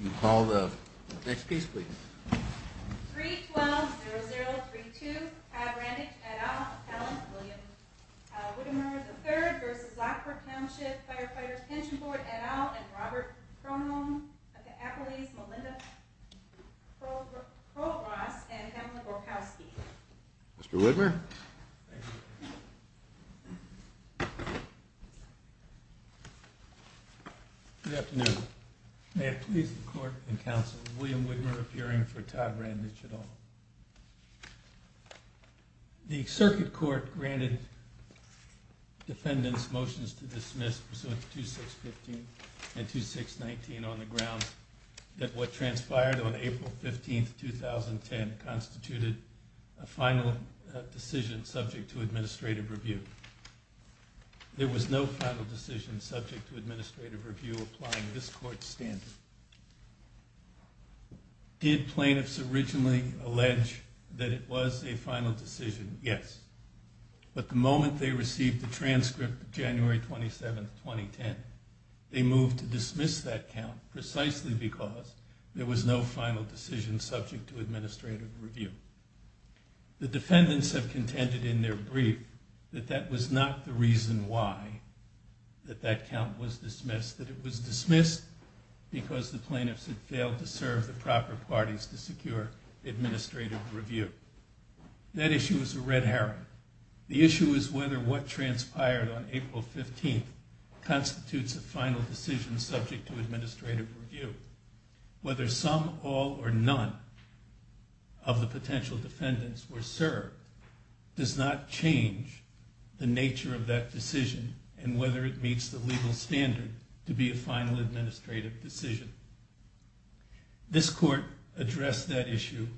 You call the next piece, please. 312003 to have Randich at all. What am I? The third versus Lockport Township Firefighters Pension Board at all. And Robert Cronin, Applebee's, Melinda Pro Pro Ross and Mr Whitmer. Thank you. Good afternoon. May it please the court and counsel. William Whitmer appearing for Todd Randich at all. The circuit court granted defendants motions to dismiss pursuant to 2615 and 2619 on the ground that what transpired on April 15th, 2010 constituted a final decision subject to administrative review. There was no final decision subject to administrative review applying this court's standards. Did plaintiffs originally allege that it was a final decision? Yes. But the moment they received the transcript of January 27th, 2010, they moved to there was no final decision subject to administrative review. The defendants have contended in their brief that that was not the reason why that that count was dismissed, that it was dismissed because the plaintiffs had failed to serve the proper parties to secure administrative review. That issue was a red herring. The issue is whether what transpired on April 15th constitutes a final decision subject to administrative review. Whether some, all, or none of the potential defendants were served does not change the nature of that decision and whether it meets the legal standard to be a final administrative decision. This court addressed that issue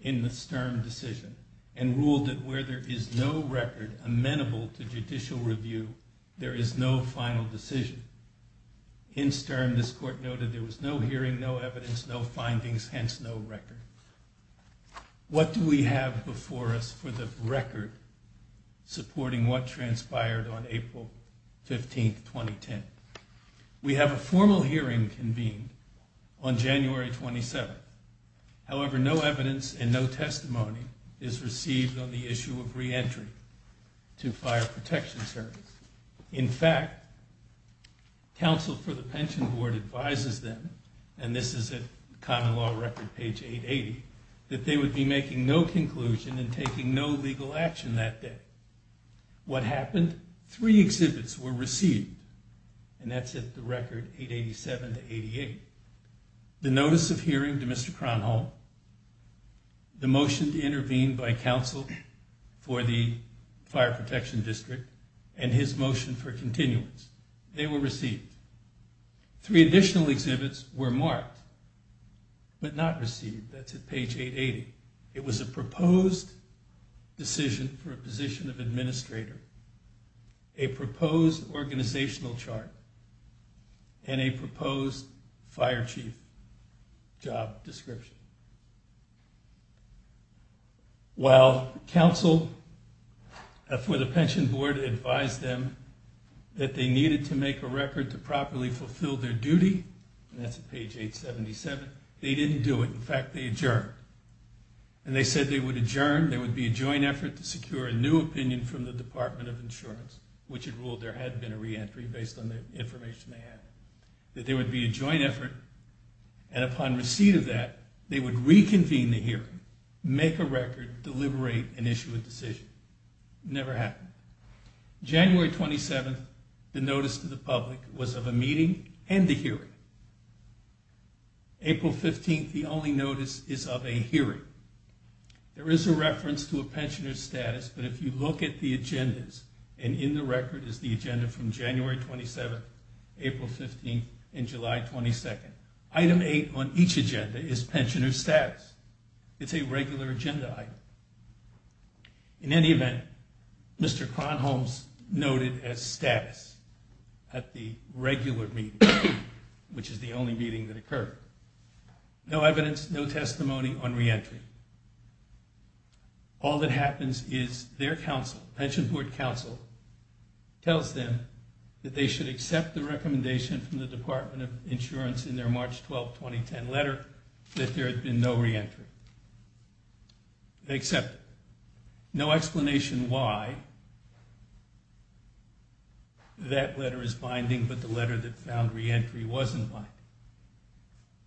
in the stern decision and ruled that where there is no record amenable to judicial review, there is no final decision. In stern, this court noted there was no hearing, no evidence, no findings, hence no record. What do we have before us for the record supporting what transpired on April 15th, 2010? We have a formal hearing convened on January 27th. However, no evidence and no testimony is received on the issue of reentry to fire protection service. In fact, counsel for the pension board advises them, and this is a common law record page 880, that they would be making no conclusion and taking no legal action that day. What happened? Three exhibits were received, and that's at the record 887 to 88. The notice of hearing to Mr. Kronholm, the motion to intervene by counsel for the fire protection district, and his motion for continuance. They were received. Three additional exhibits were marked, but not received. That's at page 880. It was a proposed decision for a position of administrator, a proposed organizational chart, and a proposed fire chief job description. While counsel for the pension board advised them that they needed to make a record to properly fulfill their duty, and that's at page 877, they didn't do it. In fact, they adjourned. And they said they would adjourn, there would be a joint effort to secure a new opinion from the Department of Insurance, which had ruled there hadn't been a reentry based on the information they had. That there would be a joint effort, and upon receipt of that, they would reconvene the hearing, make a record, deliberate, and issue a decision. Never happened. January 27th, the notice to the public was of a meeting and a hearing. April 15th, the only notice is of a hearing. There is a reference to a pensioner's status, but if you look at the agendas, and in the record is the April 15th and July 22nd. Item 8 on each agenda is pensioner's status. It's a regular agenda item. In any event, Mr. Kronholz noted as status at the regular meeting, which is the only meeting that occurred. No evidence, no testimony on reentry. All that happens is their counsel, pension board counsel, tells them that they should accept the recommendation from the Department of Insurance in their March 12, 2010 letter that there had been no reentry. They accept it. No explanation why that letter is binding, but the letter that found reentry wasn't binding.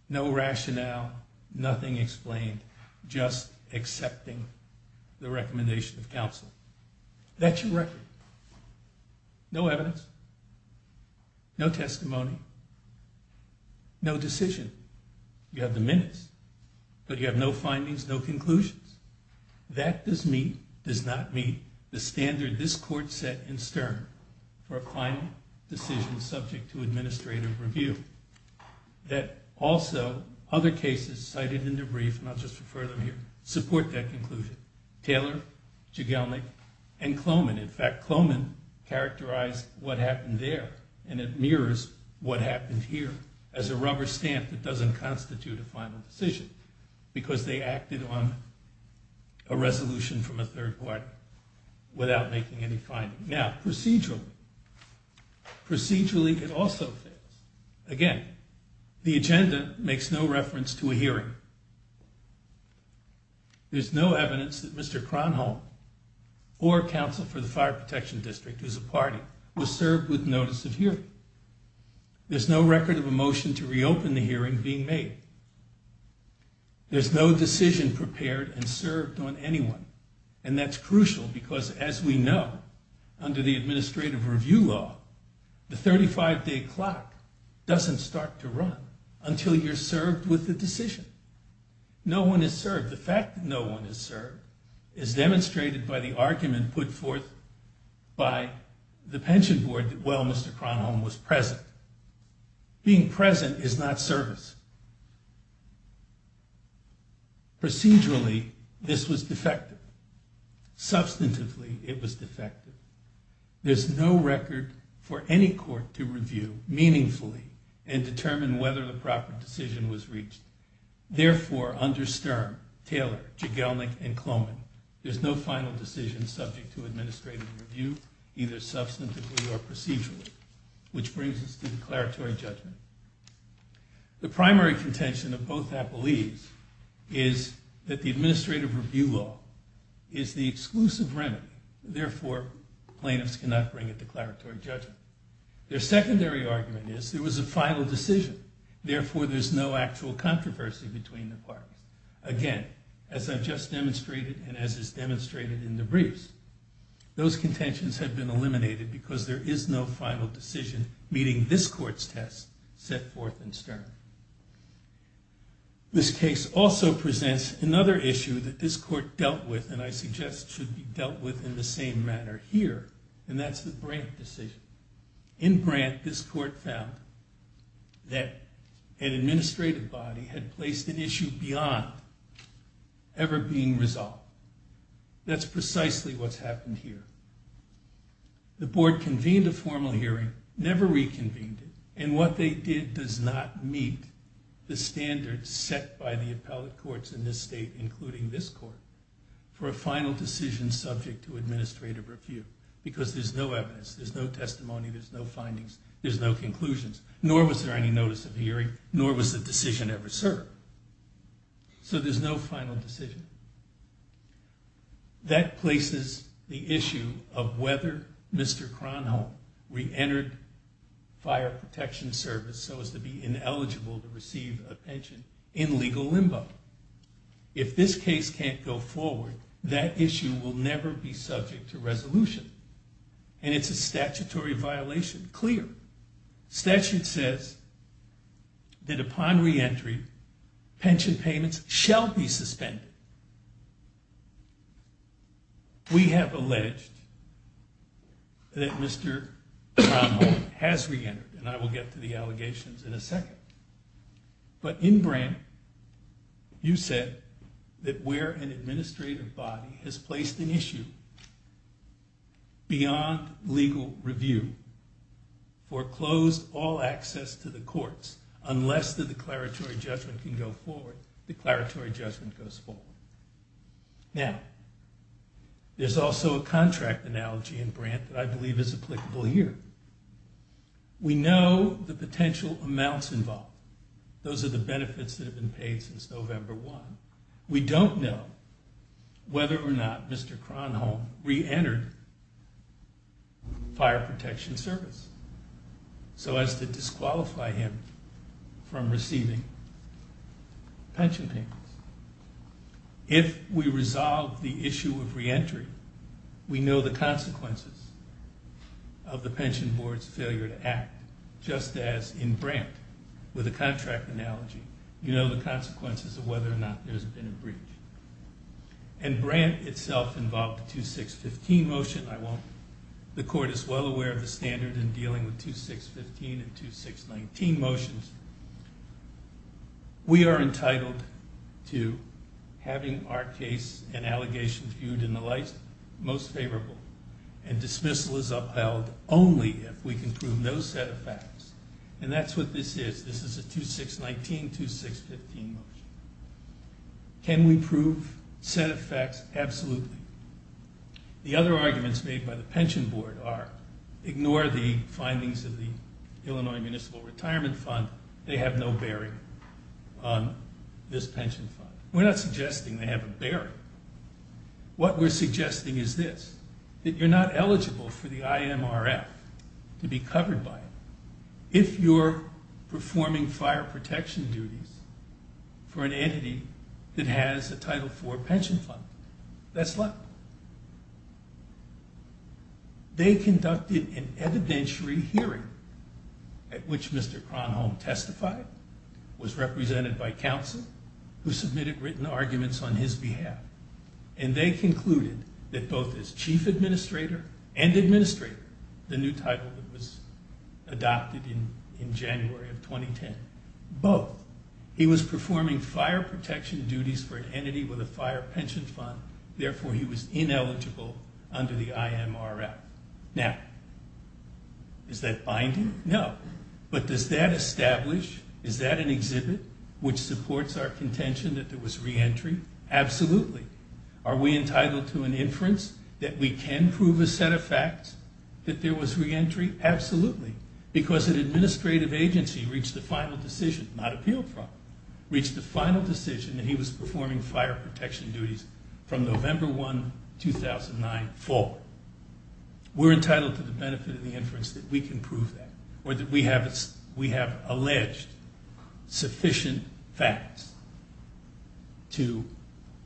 No rationale, nothing explained, just accepting the request. No testimony, no decision. You have the minutes, but you have no findings, no conclusions. That does not meet the standard this court set in Stern for a final decision subject to administrative review. That also, other cases cited in the brief, and I'll just refer them here, support that conclusion. Taylor, Jigelnik, and Kloman. In fact, Kloman characterized what happened there, and it mirrors what happened here as a rubber stamp that doesn't constitute a final decision, because they acted on a resolution from a third party without making any findings. Now, procedurally, procedurally it also fails. Again, the agenda makes no reference to a counsel for the Fire Protection District, who's a party, who was served with notice of hearing. There's no record of a motion to reopen the hearing being made. There's no decision prepared and served on anyone, and that's crucial because, as we know, under the administrative review law, the 35-day clock doesn't start to run until you're served with the decision. No one is served. The fact that no one is served is demonstrated by the argument put forth by the pension board that, well, Mr. Cronholm was present. Being present is not service. Procedurally, this was defective. Substantively, it was defective. There's no record for any court to review meaningfully and determine whether the proper decision was reached. Therefore, under Sturm, Taylor, Jigelnik, and Kloman, there's no final decision subject to administrative review, either substantively or procedurally, which brings us to declaratory judgment. The primary contention of both appellees is that the administrative review law is the exclusive remedy. Therefore, plaintiffs cannot bring a declaratory judgment. Their secondary argument is there was a final decision. Therefore, there's no actual controversy between the parties. Again, as I've just demonstrated and as is demonstrated in the briefs, those contentions have been eliminated because there is no final decision meeting this court's test set forth in Sturm. This case also presents another issue that this same manner here, and that's the Brandt decision. In Brandt, this court found that an administrative body had placed an issue beyond ever being resolved. That's precisely what's happened here. The board convened a formal hearing, never reconvened it, and what they did does not meet the standards set by the appellate courts in this state, including this court, for a final decision subject to administrative review because there's no evidence, there's no testimony, there's no findings, there's no conclusions, nor was there any notice of hearing, nor was the decision ever served. So there's no final decision. That places the issue of whether Mr. Kronholm reentered fire protection service so as to be that issue will never be subject to resolution, and it's a statutory violation. Clear. Statute says that upon reentry, pension payments shall be suspended. We have alleged that Mr. Kronholm has reentered, and I will get to the allegations in a second, but in Brandt, you said that where an administrative body has placed an issue beyond legal review, foreclosed all access to the courts unless the declaratory judgment can go forward, the declaratory judgment goes forward. Now, there's also a contract analogy in Brandt that I believe is applicable here. We know the potential amounts involved. Those are the benefits that have been paid since November 1. We don't know whether or not Mr. Kronholm reentered fire protection service so as to disqualify him from receiving pension payments. If we resolve the issue of reentry, we know the consequences of the pension board's failure to act, just as in Brandt, with a contract analogy. You know the consequences of whether or not there's been a breach. And Brandt itself involved the 2615 motion. The court is well aware of the standard in dealing with 2615 and 2619 motions. We are entitled to having our case and allegations viewed in the light most favorable, and dismissal is upheld only if we can prove those set of facts. And that's what this is. This is a 2619, 2615 motion. Can we prove set of facts? Absolutely. The other arguments made by the pension board are ignore the findings of the Illinois Municipal Retirement Fund. They have no bearing on this pension fund. We're not suggesting they have a bearing. What we're suggesting is this, that you're not eligible for the IMRF to be covered by it if you're performing fire protection duties for an entity that has a Title IV pension fund. That's not. They conducted an evidentiary hearing at which Mr. Kronholm testified, was represented by counsel, who submitted written arguments on his behalf. And they concluded that both his chief administrator and administrator, the new title that was adopted in January of 2010, both, he was ineligible under the IMRF. Now, is that binding? No. But does that establish, is that an exhibit which supports our contention that there was reentry? Absolutely. Are we entitled to an inference that we can prove a set of facts that there was reentry? Absolutely. Because an administrative agency reached the final decision, not appealed from, reached the final decision that he was ineligible from 2009 forward. We're entitled to the benefit of the inference that we can prove that, or that we have alleged sufficient facts to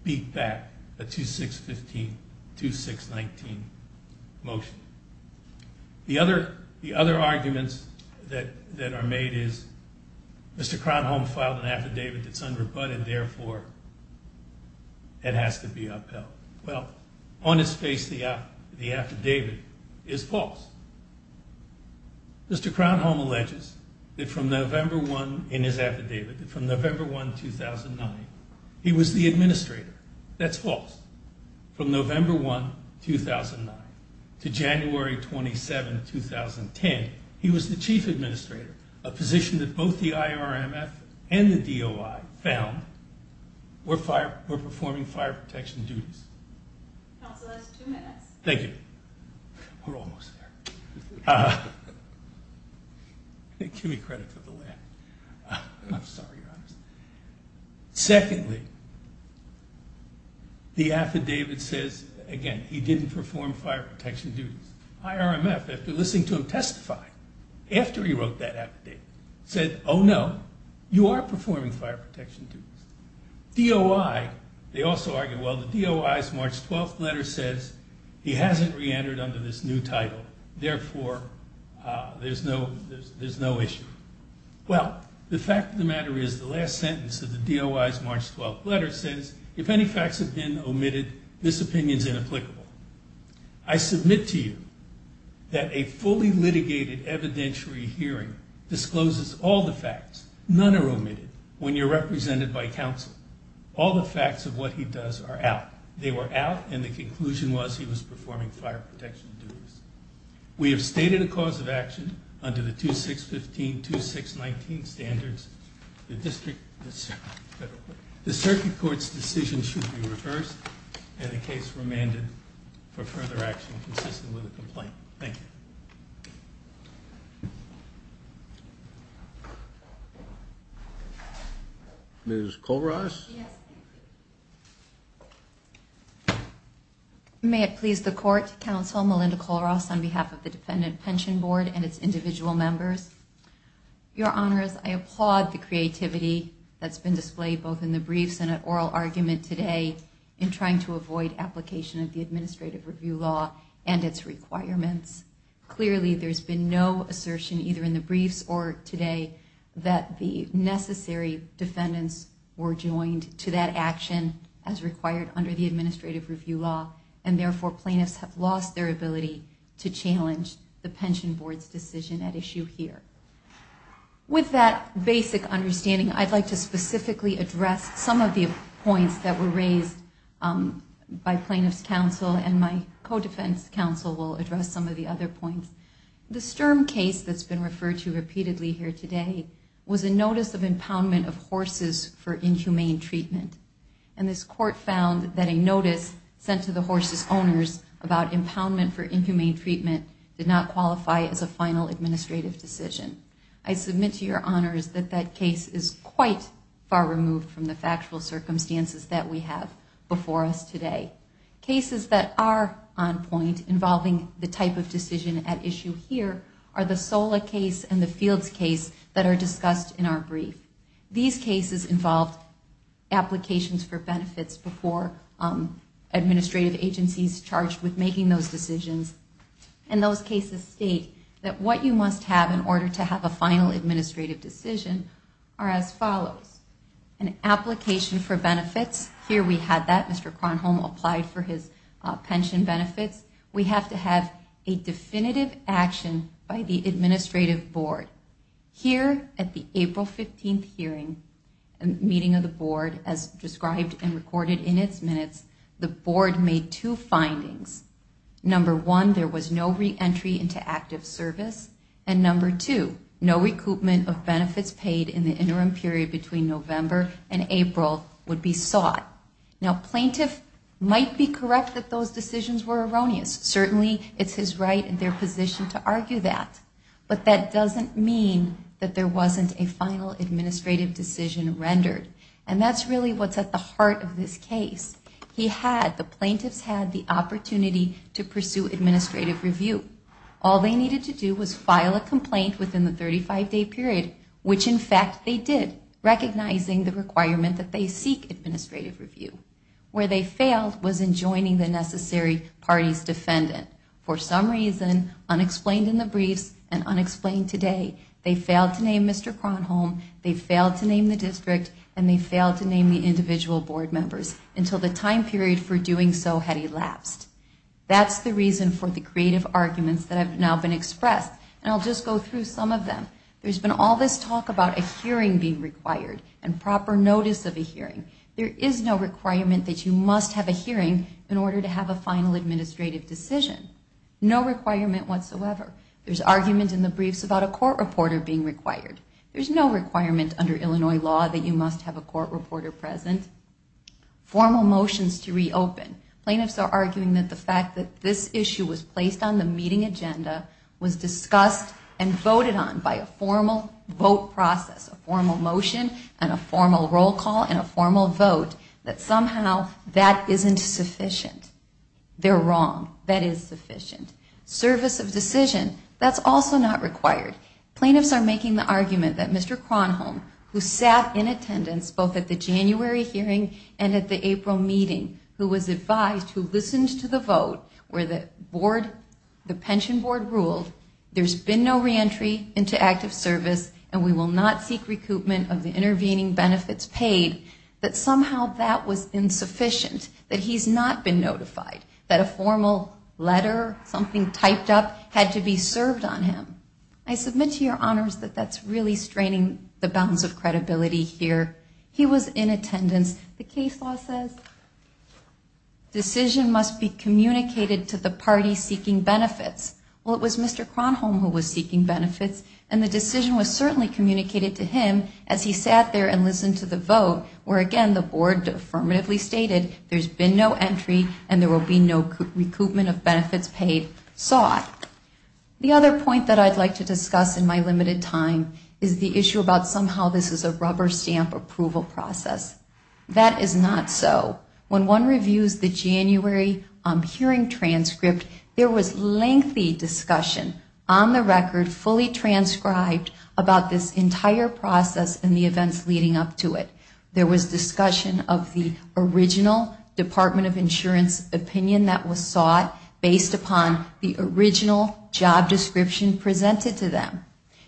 beat back a 2615, 2619 motion. The other arguments that are made is Mr. Kronholm filed an affidavit that's unrebutted, therefore it has to be upheld. Well, on its face, the affidavit is false. Mr. Kronholm alleges that from November 1 in his affidavit, that from November 1, 2009, he was the administrator. That's false. From November 1, 2009 to January 27, 2010, he was the chief administrator, a position that both the IRMF and the DOI found were performing fire protection duties. Secondly, the affidavit says, again, he didn't perform fire protection duties. IRMF, after listening to him testify, after he wrote that affidavit, said, oh no, you are performing fire protection duties. DOI, they also argue, well, the DOI's March 12th letter says he hasn't reentered under this new title, therefore there's no issue. Well, the fact of the matter is the last sentence of the DOI's March 12th letter says, if any facts have been omitted, this opinion's inapplicable. I submit to you that a fully litigated evidentiary hearing discloses all the facts. None are omitted. When you're represented by counsel, all the facts of what he does are out. They were out, and the conclusion was he was performing fire protection duties. We have stated a cause of action under the 2615-2619 standards. The circuit court's decision should be reversed, and the case remanded for further action consistent with the complaint. Thank you. Ms. Colross? May it please the Court, Counsel Melinda Colross, on behalf of the Defendant Pension Board and its individual members. Your Honors, I applaud the creativity that's been displayed both in the case of the plaintiff and the plaintiff's client in trying to avoid application of the Administrative Review Law and its requirements. Clearly, there's been no assertion, either in the briefs or today, that the necessary defendants were joined to that action as required under the Administrative Review Law, and therefore plaintiffs have lost their ability to challenge the The Sturm case that's been referred to repeatedly here today was a notice of impoundment of horses for inhumane treatment, and this Court found that a notice sent to the horses' owners about impoundment for inhumane treatment did not qualify as a final administrative decision. I submit to your Honors that that case is quite far removed from the factual circumstances that we have before us today. Cases that are on point involving the type of decision at issue here are the Sola case and the Fields case that are discussed in our brief. These cases involved applications for benefits before administrative agencies charged with making those decisions, and those cases state that what you must have in order to have a final administrative decision are as follows. An application for benefits, here we had that Mr. Kronholm applied for his pension benefits. We have to have a definitive action by the Administrative Board. Here at the April 15th hearing and meeting of the Board, as described and recorded in its minutes, the Board made two findings. Number one, there was no re-entry into active service, and number two, no recoupment of benefits paid in the interim period between November and April would be sought. Now, a plaintiff might be correct that those decisions were erroneous. Certainly, it's his right and their position to argue that, but that doesn't mean that there wasn't a final administrative decision rendered, and that's really what's at the heart of this case. The plaintiffs had the opportunity to pursue administrative review. All they needed to do was file a complaint within the 35-day period, which in fact they did, recognizing the requirement that they seek administrative review. Where they failed was in joining the necessary parties defendant. For some reason, unexplained in the briefs and unexplained today, they failed to name Mr. Kronholm, they failed to name the district, and they failed to name the individual Board members until the time period for doing so had elapsed. That's the reason for the creative arguments that have now been expressed, and I'll just go through some of them. There's been all this talk about a hearing being required and proper notice of a hearing. There is no requirement that you must have a hearing in order to have a final administrative decision. No requirement whatsoever. There's argument in the briefs about a court reporter being required. There's no requirement under Illinois law that you must have a court reporter present. Formal motions to reopen. Plaintiffs are arguing that the fact that this issue was discussed and voted on by a formal vote process, a formal motion and a formal roll call and a formal vote, that somehow that isn't sufficient. They're wrong. That is sufficient. Service of decision. That's also not required. Plaintiffs are making the argument that Mr. Kronholm, who sat in attendance both at the January hearing and at the April meeting, who was advised, who listened to the vote, where the board, the pension board ruled, there's been no reentry into active service and we will not seek recoupment of the intervening benefits paid, that somehow that was insufficient. That he's not been notified. That a formal letter, something typed up, had to be served on him. I submit to your honors that that's really straining the bounds of credibility here. He was in attendance. The case law says, decision must be communicated to the party seeking benefits. Well, it was Mr. Kronholm who was seeking benefits and the decision was certainly communicated to him as he sat there and listened to the vote, where again, the board affirmatively stated, there's been no entry and there will be no recoupment of benefits paid sought. The other point that I'd like to discuss in my limited time is the issue about somehow this is a rubber stamp approval process. That is not so. When one reviews the January hearing transcript, there was lengthy discussion on the record, fully transcribed, about this entire process and the events leading up to it. There was discussion of the original Department of Insurance opinion that was sought based upon the original job description presented to them.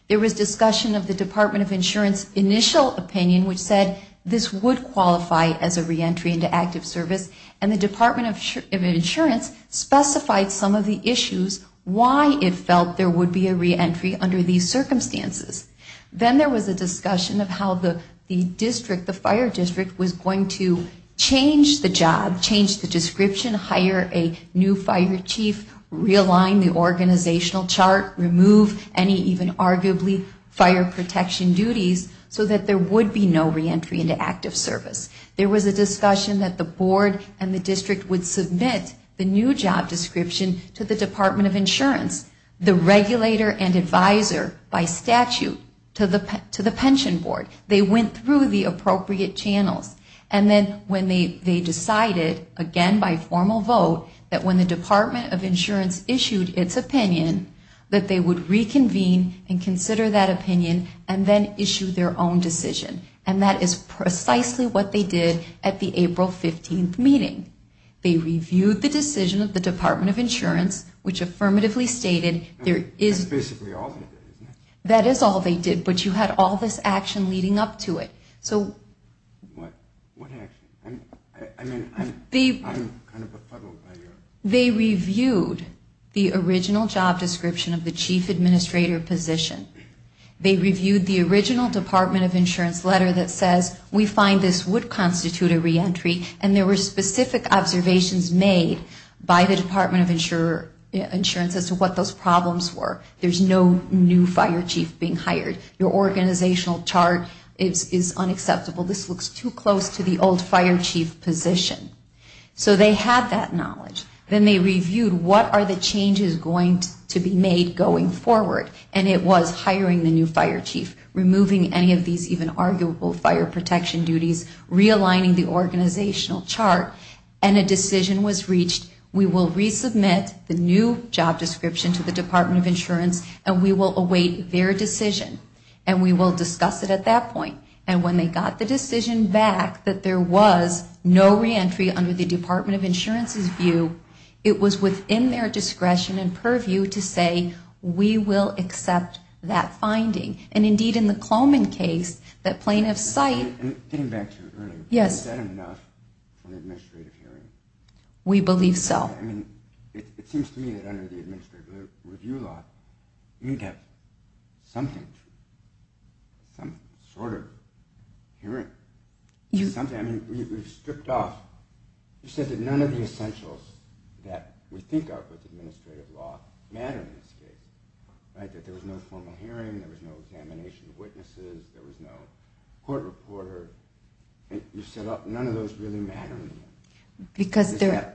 There was discussion of the Department of Insurance initial opinion which said this would qualify as a reentry into active service and the Department of Insurance specified some of the issues, why it felt there would be a reentry under these circumstances. Then there was a discussion of how the district, the fire district, was going to change the job, change the description, hire a new fire chief, realign the organizational chart, remove any even arguably fire protection duties so that there would be no reentry into active service. There was a discussion that the board and the district would submit the new job description to the Department of Insurance, the regulator and advisor by statute to the pension board. They went through the appropriate channels and then when they decided, again by formal vote, that when the Department of Insurance issued its opinion that they would reconvene and consider that opinion and then issue their own decision. That is precisely what they did at the April 15th meeting. They reviewed the decision of the Department of Insurance which affirmatively stated there is. That is all they did but you had all this action leading up to it. They reviewed the original job description of the chief administrator position. They reviewed the original Department of Insurance letter that says we find this would constitute a reentry and there were no new fire chief being hired. Your organizational chart is unacceptable. This looks too close to the old fire chief position. So they had that knowledge. Then they reviewed what are the changes going to be made going forward and it was hiring the new fire chief, removing any of these even arguable fire protection duties, realigning the organizational chart and a decision was reached. We will resubmit the new job description to the Department of Insurance and we will await their decision and we will discuss it at that point. And when they got the decision back that there was no reentry under the Department of Insurance's view, it was within their discretion and purview to say we will accept that finding. And indeed in the Coleman case, that plaintiff's site. Getting back to earlier, is that enough for an administrative hearing? We believe so. It seems to me that under the administrative review law, you need to have something, some sort of hearing. You said that none of the essentials that we think of with administrative law matter in this case. That there was no formal hearing, there was no examination of witnesses, there was no court reporter. You said none of those really matter. Because they're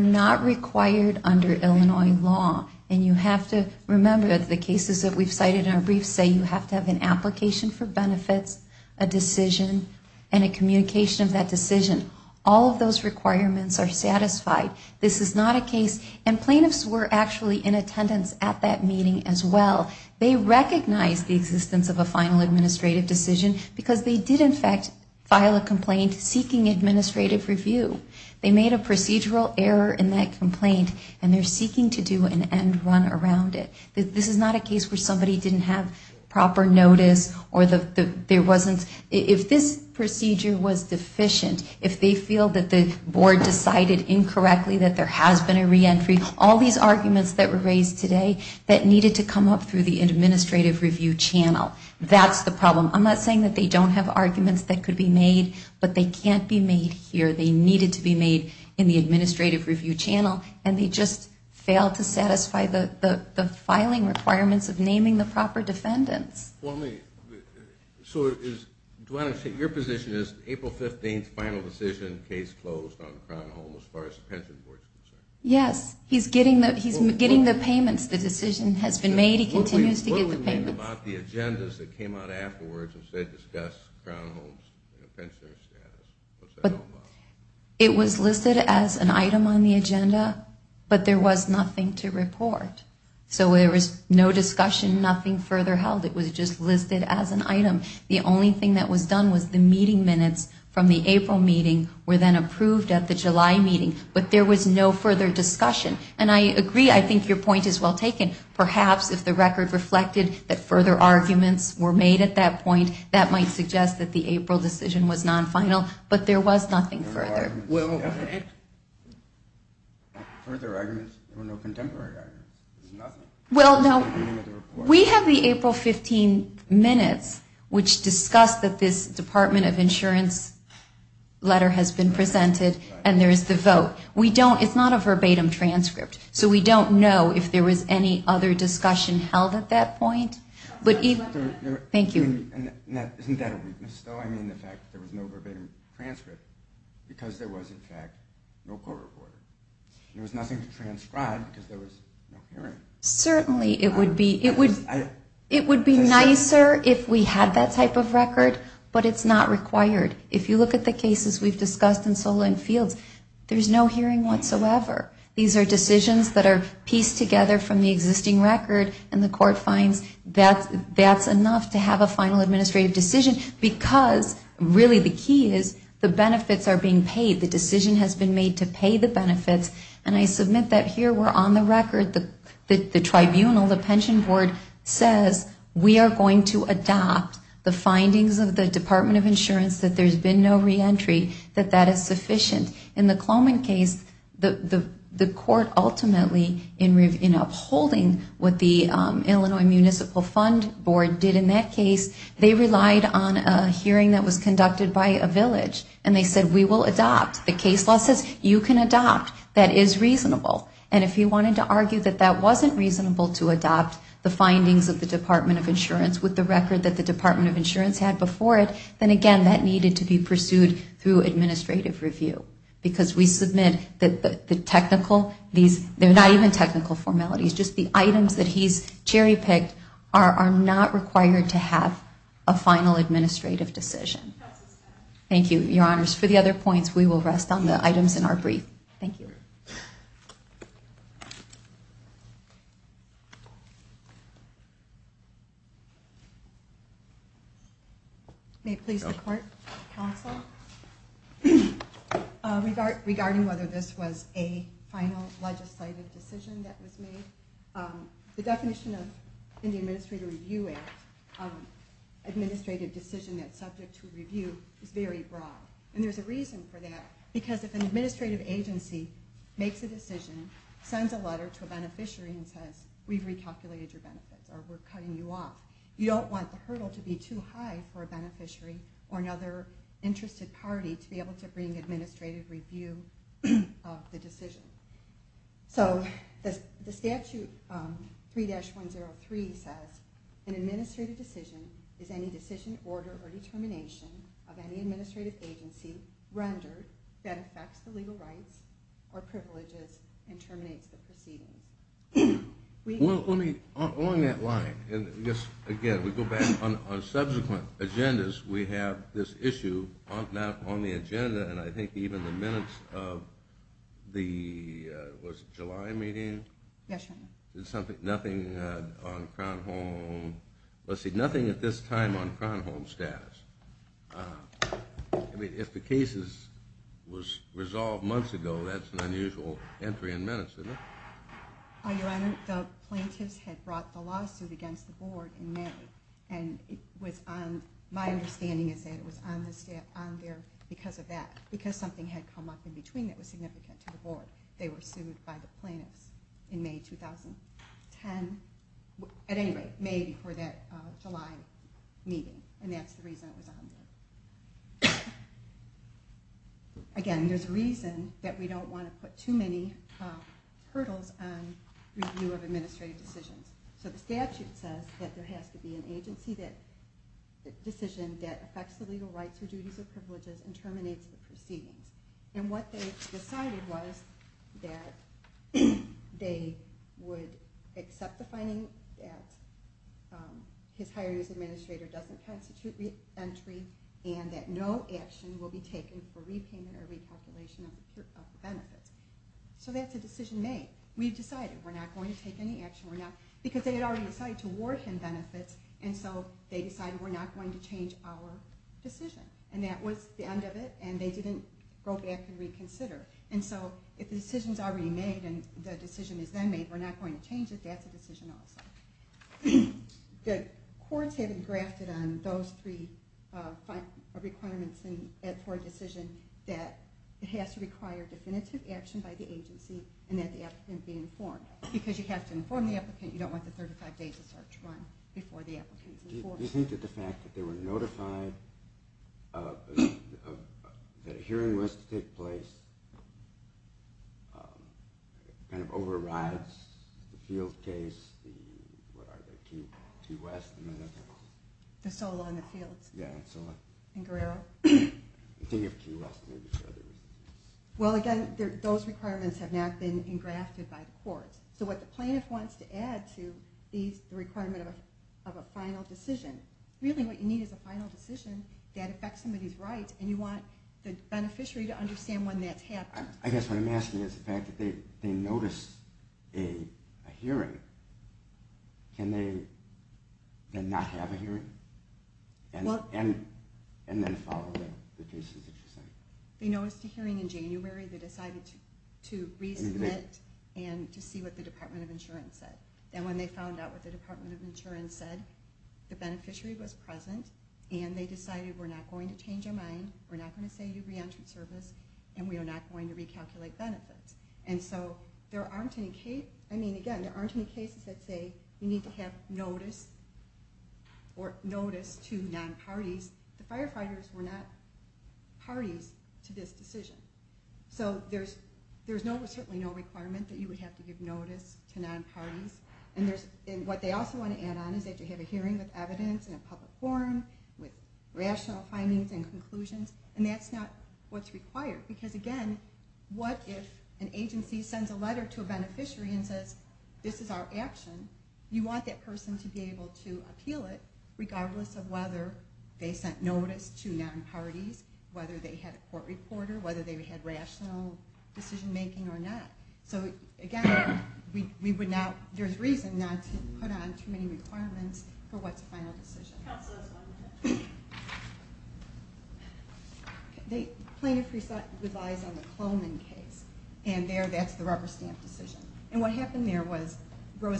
not required under Illinois law and you have to remember the cases that we've cited in our briefs say you have to have an application for benefits, a decision and a communication of that decision. All of those requirements are satisfied. This is not a case and plaintiffs were actually in attendance at that meeting as well. They recognized the existence of a final administrative decision because they did in fact file a complaint seeking administrative review. They made a procedural error in that complaint and they're seeking to do an end run around it. This is not a case where somebody didn't have proper notice or there wasn't, if this procedure was deficient, if they feel that the board decided incorrectly that there has been a reentry, all these arguments that were raised today that needed to come up through the administrative review channel. That's the problem. I'm not saying that they don't have arguments that could be made, but they can't be made here. They needed to be made in the administrative review channel and they just failed to satisfy the filing requirements of naming the proper defendants. Your position is April 15th, final decision, case closed on Crown Hall as far as the pension board is concerned? Yes, he's getting the payments. The decision has been made. He continues to get the payments. What do we mean about the agendas that came out afterwards that said discuss Crown Hall's pensioner status? It was listed as an item on the agenda, but there was nothing to report. So there was no discussion, nothing further held. It was just listed as an item. The only thing that was the meeting minutes from the April meeting were then approved at the July meeting, but there was no further discussion. And I agree, I think your point is well taken. Perhaps if the record reflected that further arguments were made at that point, that might suggest that the April decision was non-final, but there was nothing further. Further arguments? There were no contemporary arguments? Well, no. We have the April 15 minutes which discuss that this Department of Insurance letter has been presented and there is the vote. We don't, it's not a verbatim transcript, so we don't know if there was any other discussion held at that point, but even, thank you. And isn't that a weakness though? I mean the fact that there was no verbatim transcript because there was in fact no court report. There was nothing to transcribe because there was no hearing. Certainly, it would be nicer if we had that type of record, but it's not required. If you look at the cases we've discussed in Solon Fields, there's no hearing whatsoever. These are decisions that are pieced together from the existing record and the court finds that's enough to have a final administrative decision because really the key is the benefits are being paid. The decision has been made to pay the benefits and I submit that here we're on the record. The tribunal, the pension board says we are going to adopt the findings of the Department of Insurance that there's been no re-entry, that that is sufficient. In the Cloman case, the court ultimately in upholding what the Illinois Municipal Fund Board did in that case, they relied on a hearing that was conducted by a you can adopt. That is reasonable and if you wanted to argue that that wasn't reasonable to adopt the findings of the Department of Insurance with the record that the Department of Insurance had before it, then again that needed to be pursued through administrative review because we submit that the technical, these they're not even technical formalities, just the items that he's cherry-picked are not required to have a final administrative decision. Thank you, your honors. For the other points, we will rest on the items in our brief. Thank you. May it please the court, counsel. Regarding whether this was a final legislative decision that was made, the definition of administrative decision that's subject to review is very broad and there's a reason for that because if an administrative agency makes a decision, sends a letter to a beneficiary and says we've recalculated your benefits or we're cutting you off, you don't want the hurdle to be too high for a beneficiary or another interested party to be able to bring administrative review of the An administrative decision is any decision, order, or determination of any administrative agency rendered that affects the legal rights or privileges and terminates the proceedings. Along that line, and again we go back on subsequent agendas, we have this issue on the agenda and I think even the minutes of the, was it July meeting? Yes, your honor. Nothing on Kronholm, let's see, nothing at this time on Kronholm status. I mean if the case was resolved months ago, that's an unusual entry in minutes, isn't it? Your honor, the plaintiffs had brought the lawsuit against the board in May and it was on, my understanding is that it was on there because of that, because something had come up in between that was significant to the board. They were sued by the plaintiffs in May 2010, at any rate, May before that July meeting and that's the reason it was on there. Again, there's a reason that we don't want to put too many hurdles on review of administrative decisions. So the statute says that there has to be an agency that, decision that affects the legal rights or duties or privileges and terminates the proceedings and what they decided was that they would accept the finding that his hiring as administrator doesn't constitute re-entry and that no action will be taken for repayment or recalculation of the benefits. So that's a decision made. We decided we're not going to take any action, because they had already decided to award him benefits and so they decided we're not going to change our decision. And that was the end of it and they didn't go back and reconsider. And so if the decision is already made and the decision is then made, we're not going to change it, that's a decision also. The courts have been grafted on those three requirements for a decision that it has to require definitive action by the agency and that the applicant be informed. Because you have to inform the applicant, you don't want the 35 days of search run before the applicant is informed. Do you think that the fact that they were notified that a hearing was to take place kind of overrides the field case, the Key West? The Solon, the fields? Yeah, the Solon. And Guerrero? I'm thinking of Key West maybe for other reasons. Well again, those requirements have not been engrafted by the courts. So what the plaintiff wants to add to the requirement of a final decision, really what you need is a final decision that affects somebody's rights and you want the beneficiary to understand when that's happened. I guess what I'm asking is the fact that they noticed a hearing, can they then not have a hearing? And then follow the cases that you're saying. They noticed a hearing in January, they decided to resubmit and to see what the Department of Insurance said. And when they found out what the Department of Insurance said, the beneficiary was present and they decided we're not going to change our mind, we're not going to say you reentered service, and we are not going to recalculate benefits. And so there aren't any cases that say you need to have notice or notice to non-parties. The firefighters were not parties to this decision. So there's certainly no requirement that you would have to give notice to non-parties. And what they also want to add on is that you have a hearing with evidence and a public forum with rational findings and conclusions, and that's not what's required. Because again, what if an agency sends a letter to a beneficiary and says this is our action, you want that person to be able to appeal it regardless of whether they sent notice to non-parties, whether they had a court reporter, whether they had rational decision making or not. So again, there's reason not to put on too many requirements for what's a final decision. Plaintiff relies on the Clonin case, and there that's the rubber stamp decision. And what happened there was they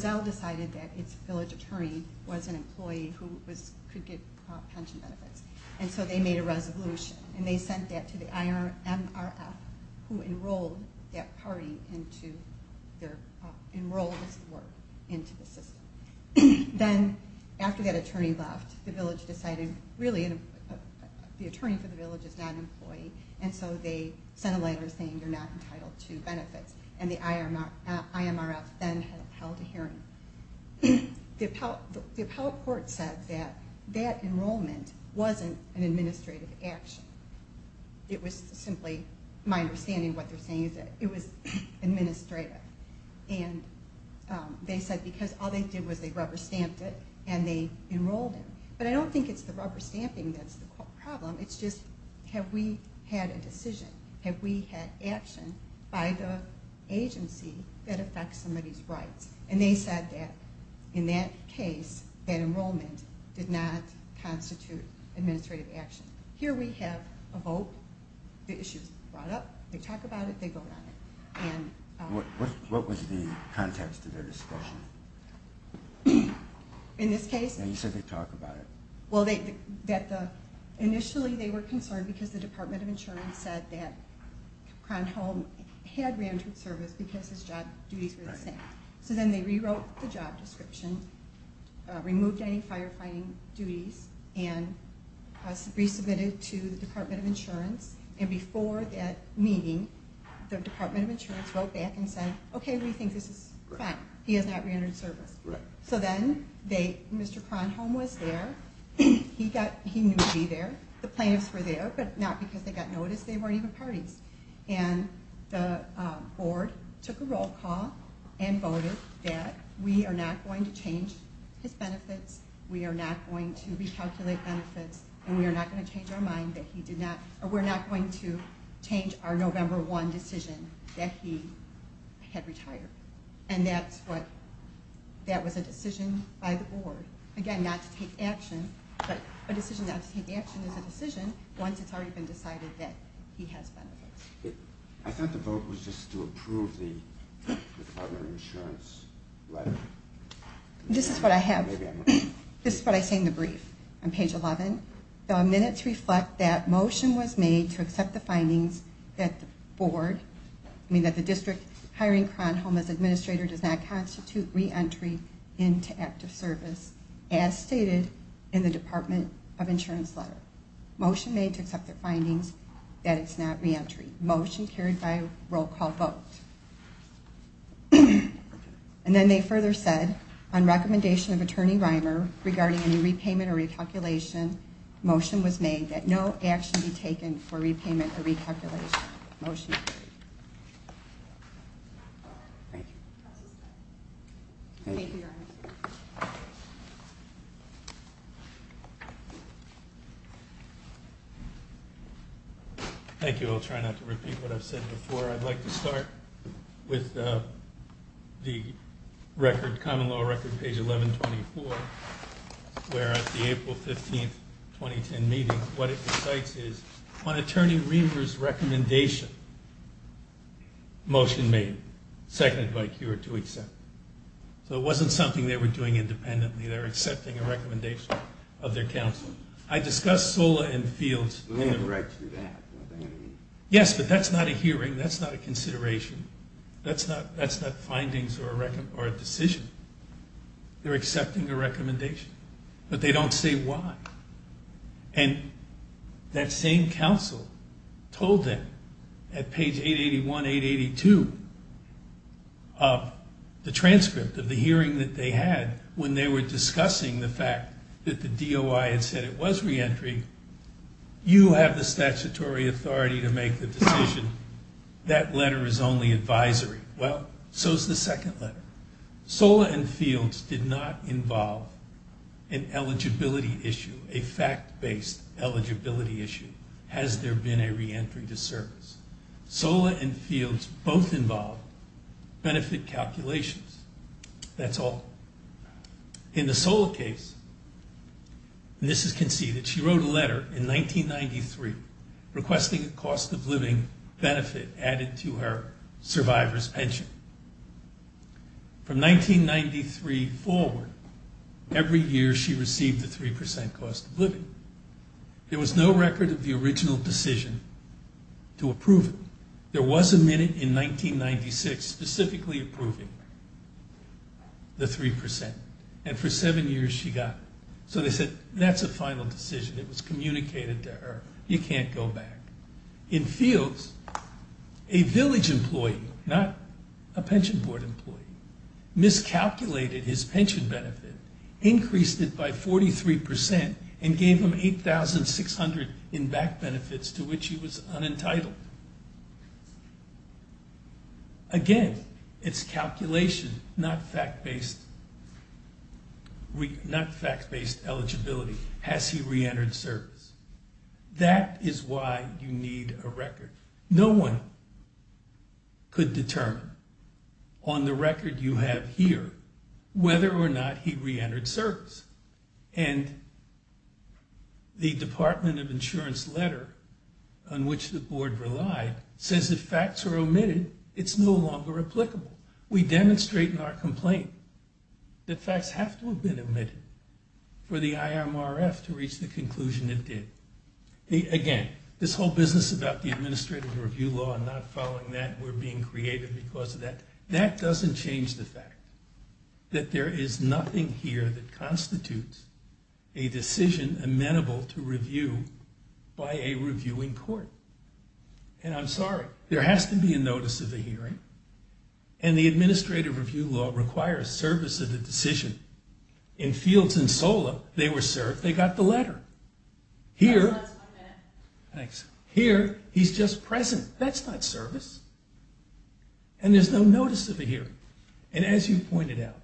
sent that to the IMRF, who enrolled that party into the system. Then after that attorney left, the attorney for the village is not an employee, and so they sent a letter saying you're not entitled to benefits. And the IMRF then held a hearing. The appellate court said that that enrollment wasn't an administrative action. It was simply, my understanding of what they're saying is that it was administrative. And they said because all they did was they rubber stamped it and they enrolled him. But I don't think it's the rubber stamping that's the problem, it's just have we had a decision, have we had action by the agency that affects somebody's rights. And they said that in that case, that enrollment did not constitute administrative action. Here we have a vote, the issue is brought up, they talk about it, they vote on it. What was the context of their discussion? Initially they were concerned because the Department of Insurance said that Cronholm had randered service because his job duties were the same. So then they rewrote the job description, removed any firefighting duties, and resubmitted to the Department of Insurance. And before that meeting, the Department of Insurance wrote back and said, okay, we think this is fine. He has not rendered service. So then Mr. Cronholm was there, he knew he'd be there, the plaintiffs were there, but not because they got notice, they weren't even parties. And the board took a roll call and voted that we are not going to change his benefits, we are not going to recalculate benefits, and we are not going to change our mind that he did not, or we're not going to change our November 1 decision that he had retired. And that's what, that was a decision by the board. Again, not to take action, but a decision not to take action is a decision once it's already been decided that he has benefits. I thought the vote was just to approve the Department of Insurance letter. This is what I have. This is what I say in the brief on page 11. The minutes reflect that motion was made to accept the findings that the board, I mean that the district hiring Cronholm as administrator does not constitute re-entry into active service, as stated in the Department of Insurance letter. Motion made to accept the findings that it's not re-entry. Motion carried by roll call vote. And then they further said, on recommendation of Attorney Reimer regarding any repayment or recalculation, motion was made that no action be taken for repayment or recalculation. Motion. Thank you. Thank you. I'll try not to repeat what I've said before. I'd like to start with the record, common law record, page 1124, where at the April 15, 2010 meeting, what it recites is, on Attorney Reimer's recommendation, motion made, seconded by Keurig to accept. So it wasn't something they were doing independently. They were accepting a recommendation of their counsel. I discussed SOLA and FIELDS. We have a right to do that, don't we? At page 881, 882 of the transcript of the hearing that they had, when they were discussing the fact that the DOI had said it was re-entry, you have the statutory authority to make the decision, that letter is only advisory. Well, so is the second letter. SOLA and FIELDS did not involve an eligibility issue, a fact-based eligibility issue. Has there been a re-entry to service? SOLA and FIELDS both involved benefit calculations. That's all. In the SOLA case, and this is conceded, she wrote a letter in 1993 requesting a cost-of-living benefit added to her survivor's pension. From 1993 forward, every year she received a 3 percent cost of living. There was no record of the original decision to approve it. There was a minute in 1996 specifically approving the 3 percent, and for seven years she got it. So they said, that's a final decision. It was communicated to her. You can't go back. In FIELDS, a village employee, not a pension board employee, miscalculated his pension benefit, increased it by 43 percent, and gave him $8,600 in back benefits to which he was unentitled. Again, it's calculation, not fact-based eligibility. Has he re-entered service? That is why you need a record. No one could determine on the record you have here whether or not he re-entered service. And the Department of Insurance letter on which the board relied says if facts are omitted, it's no longer applicable. We demonstrate in our complaint that facts have to have been omitted for the IMRF to reach the conclusion it did. Again, this whole business about the administrative review law and not following that, and we're being creative because of that, that doesn't change the fact that there is nothing here that constitutes a decision amenable to review by a reviewing court, and I'm sorry. There has to be a notice of the hearing, and the administrative review law requires service of the decision. In FIELDS and SOLA, they were served. They got the letter. Here, he's just present. That's not service. And there's no notice of a hearing, and as you pointed out,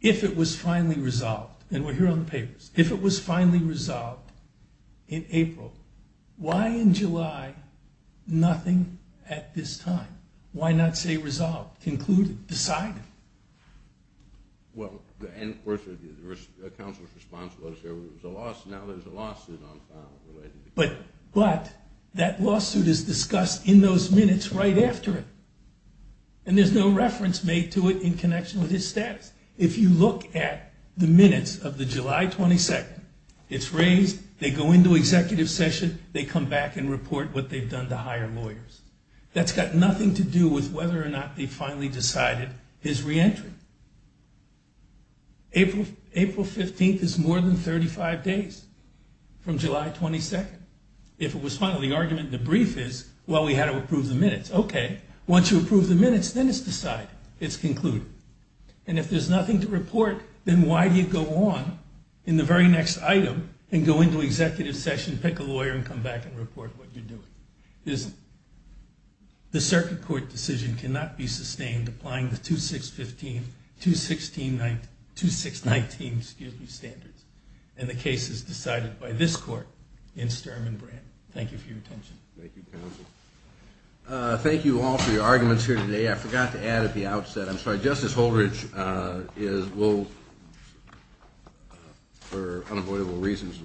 if it was finally resolved, and we're here on the papers, if it was finally resolved in April, why in July, nothing at this time? Why not say resolved, concluded, decided? Well, and of course, there was a counsel's response to whether there was a lawsuit. Now there's a lawsuit on file related to that. But that lawsuit is discussed in those minutes right after it, and there's no reference made to it in connection with his status. If you look at the minutes of the July 22nd, it's raised, they go into executive session, they come back and report what they've done to higher lawyers. That's got nothing to do with whether or not they finally decided his reentry. April 15th is more than 35 days from July 22nd. If it was final, the argument in the brief is, well, we had to approve the minutes. Okay. Once you approve the minutes, then it's decided. It's concluded. And if there's nothing to report, then why do you go on in the very next item and go into executive session, pick a lawyer, and come back and report what you're doing? The circuit court decision cannot be sustained applying the 2619 standards. And the case is decided by this court in Sturm and Brand. Thank you for your attention. Thank you, counsel. Thank you all for your arguments here today. I forgot to add at the outset, I'm sorry, Justice Holdridge will, for unavoidable reasons,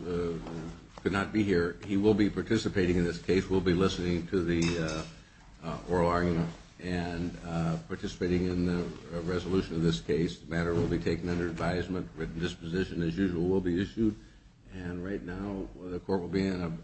could not be here. He will be participating in this case, will be listening to the oral argument and participating in the resolution of this case. The matter will be taken under advisement, written disposition, as usual, will be issued, and right now the court will be in session.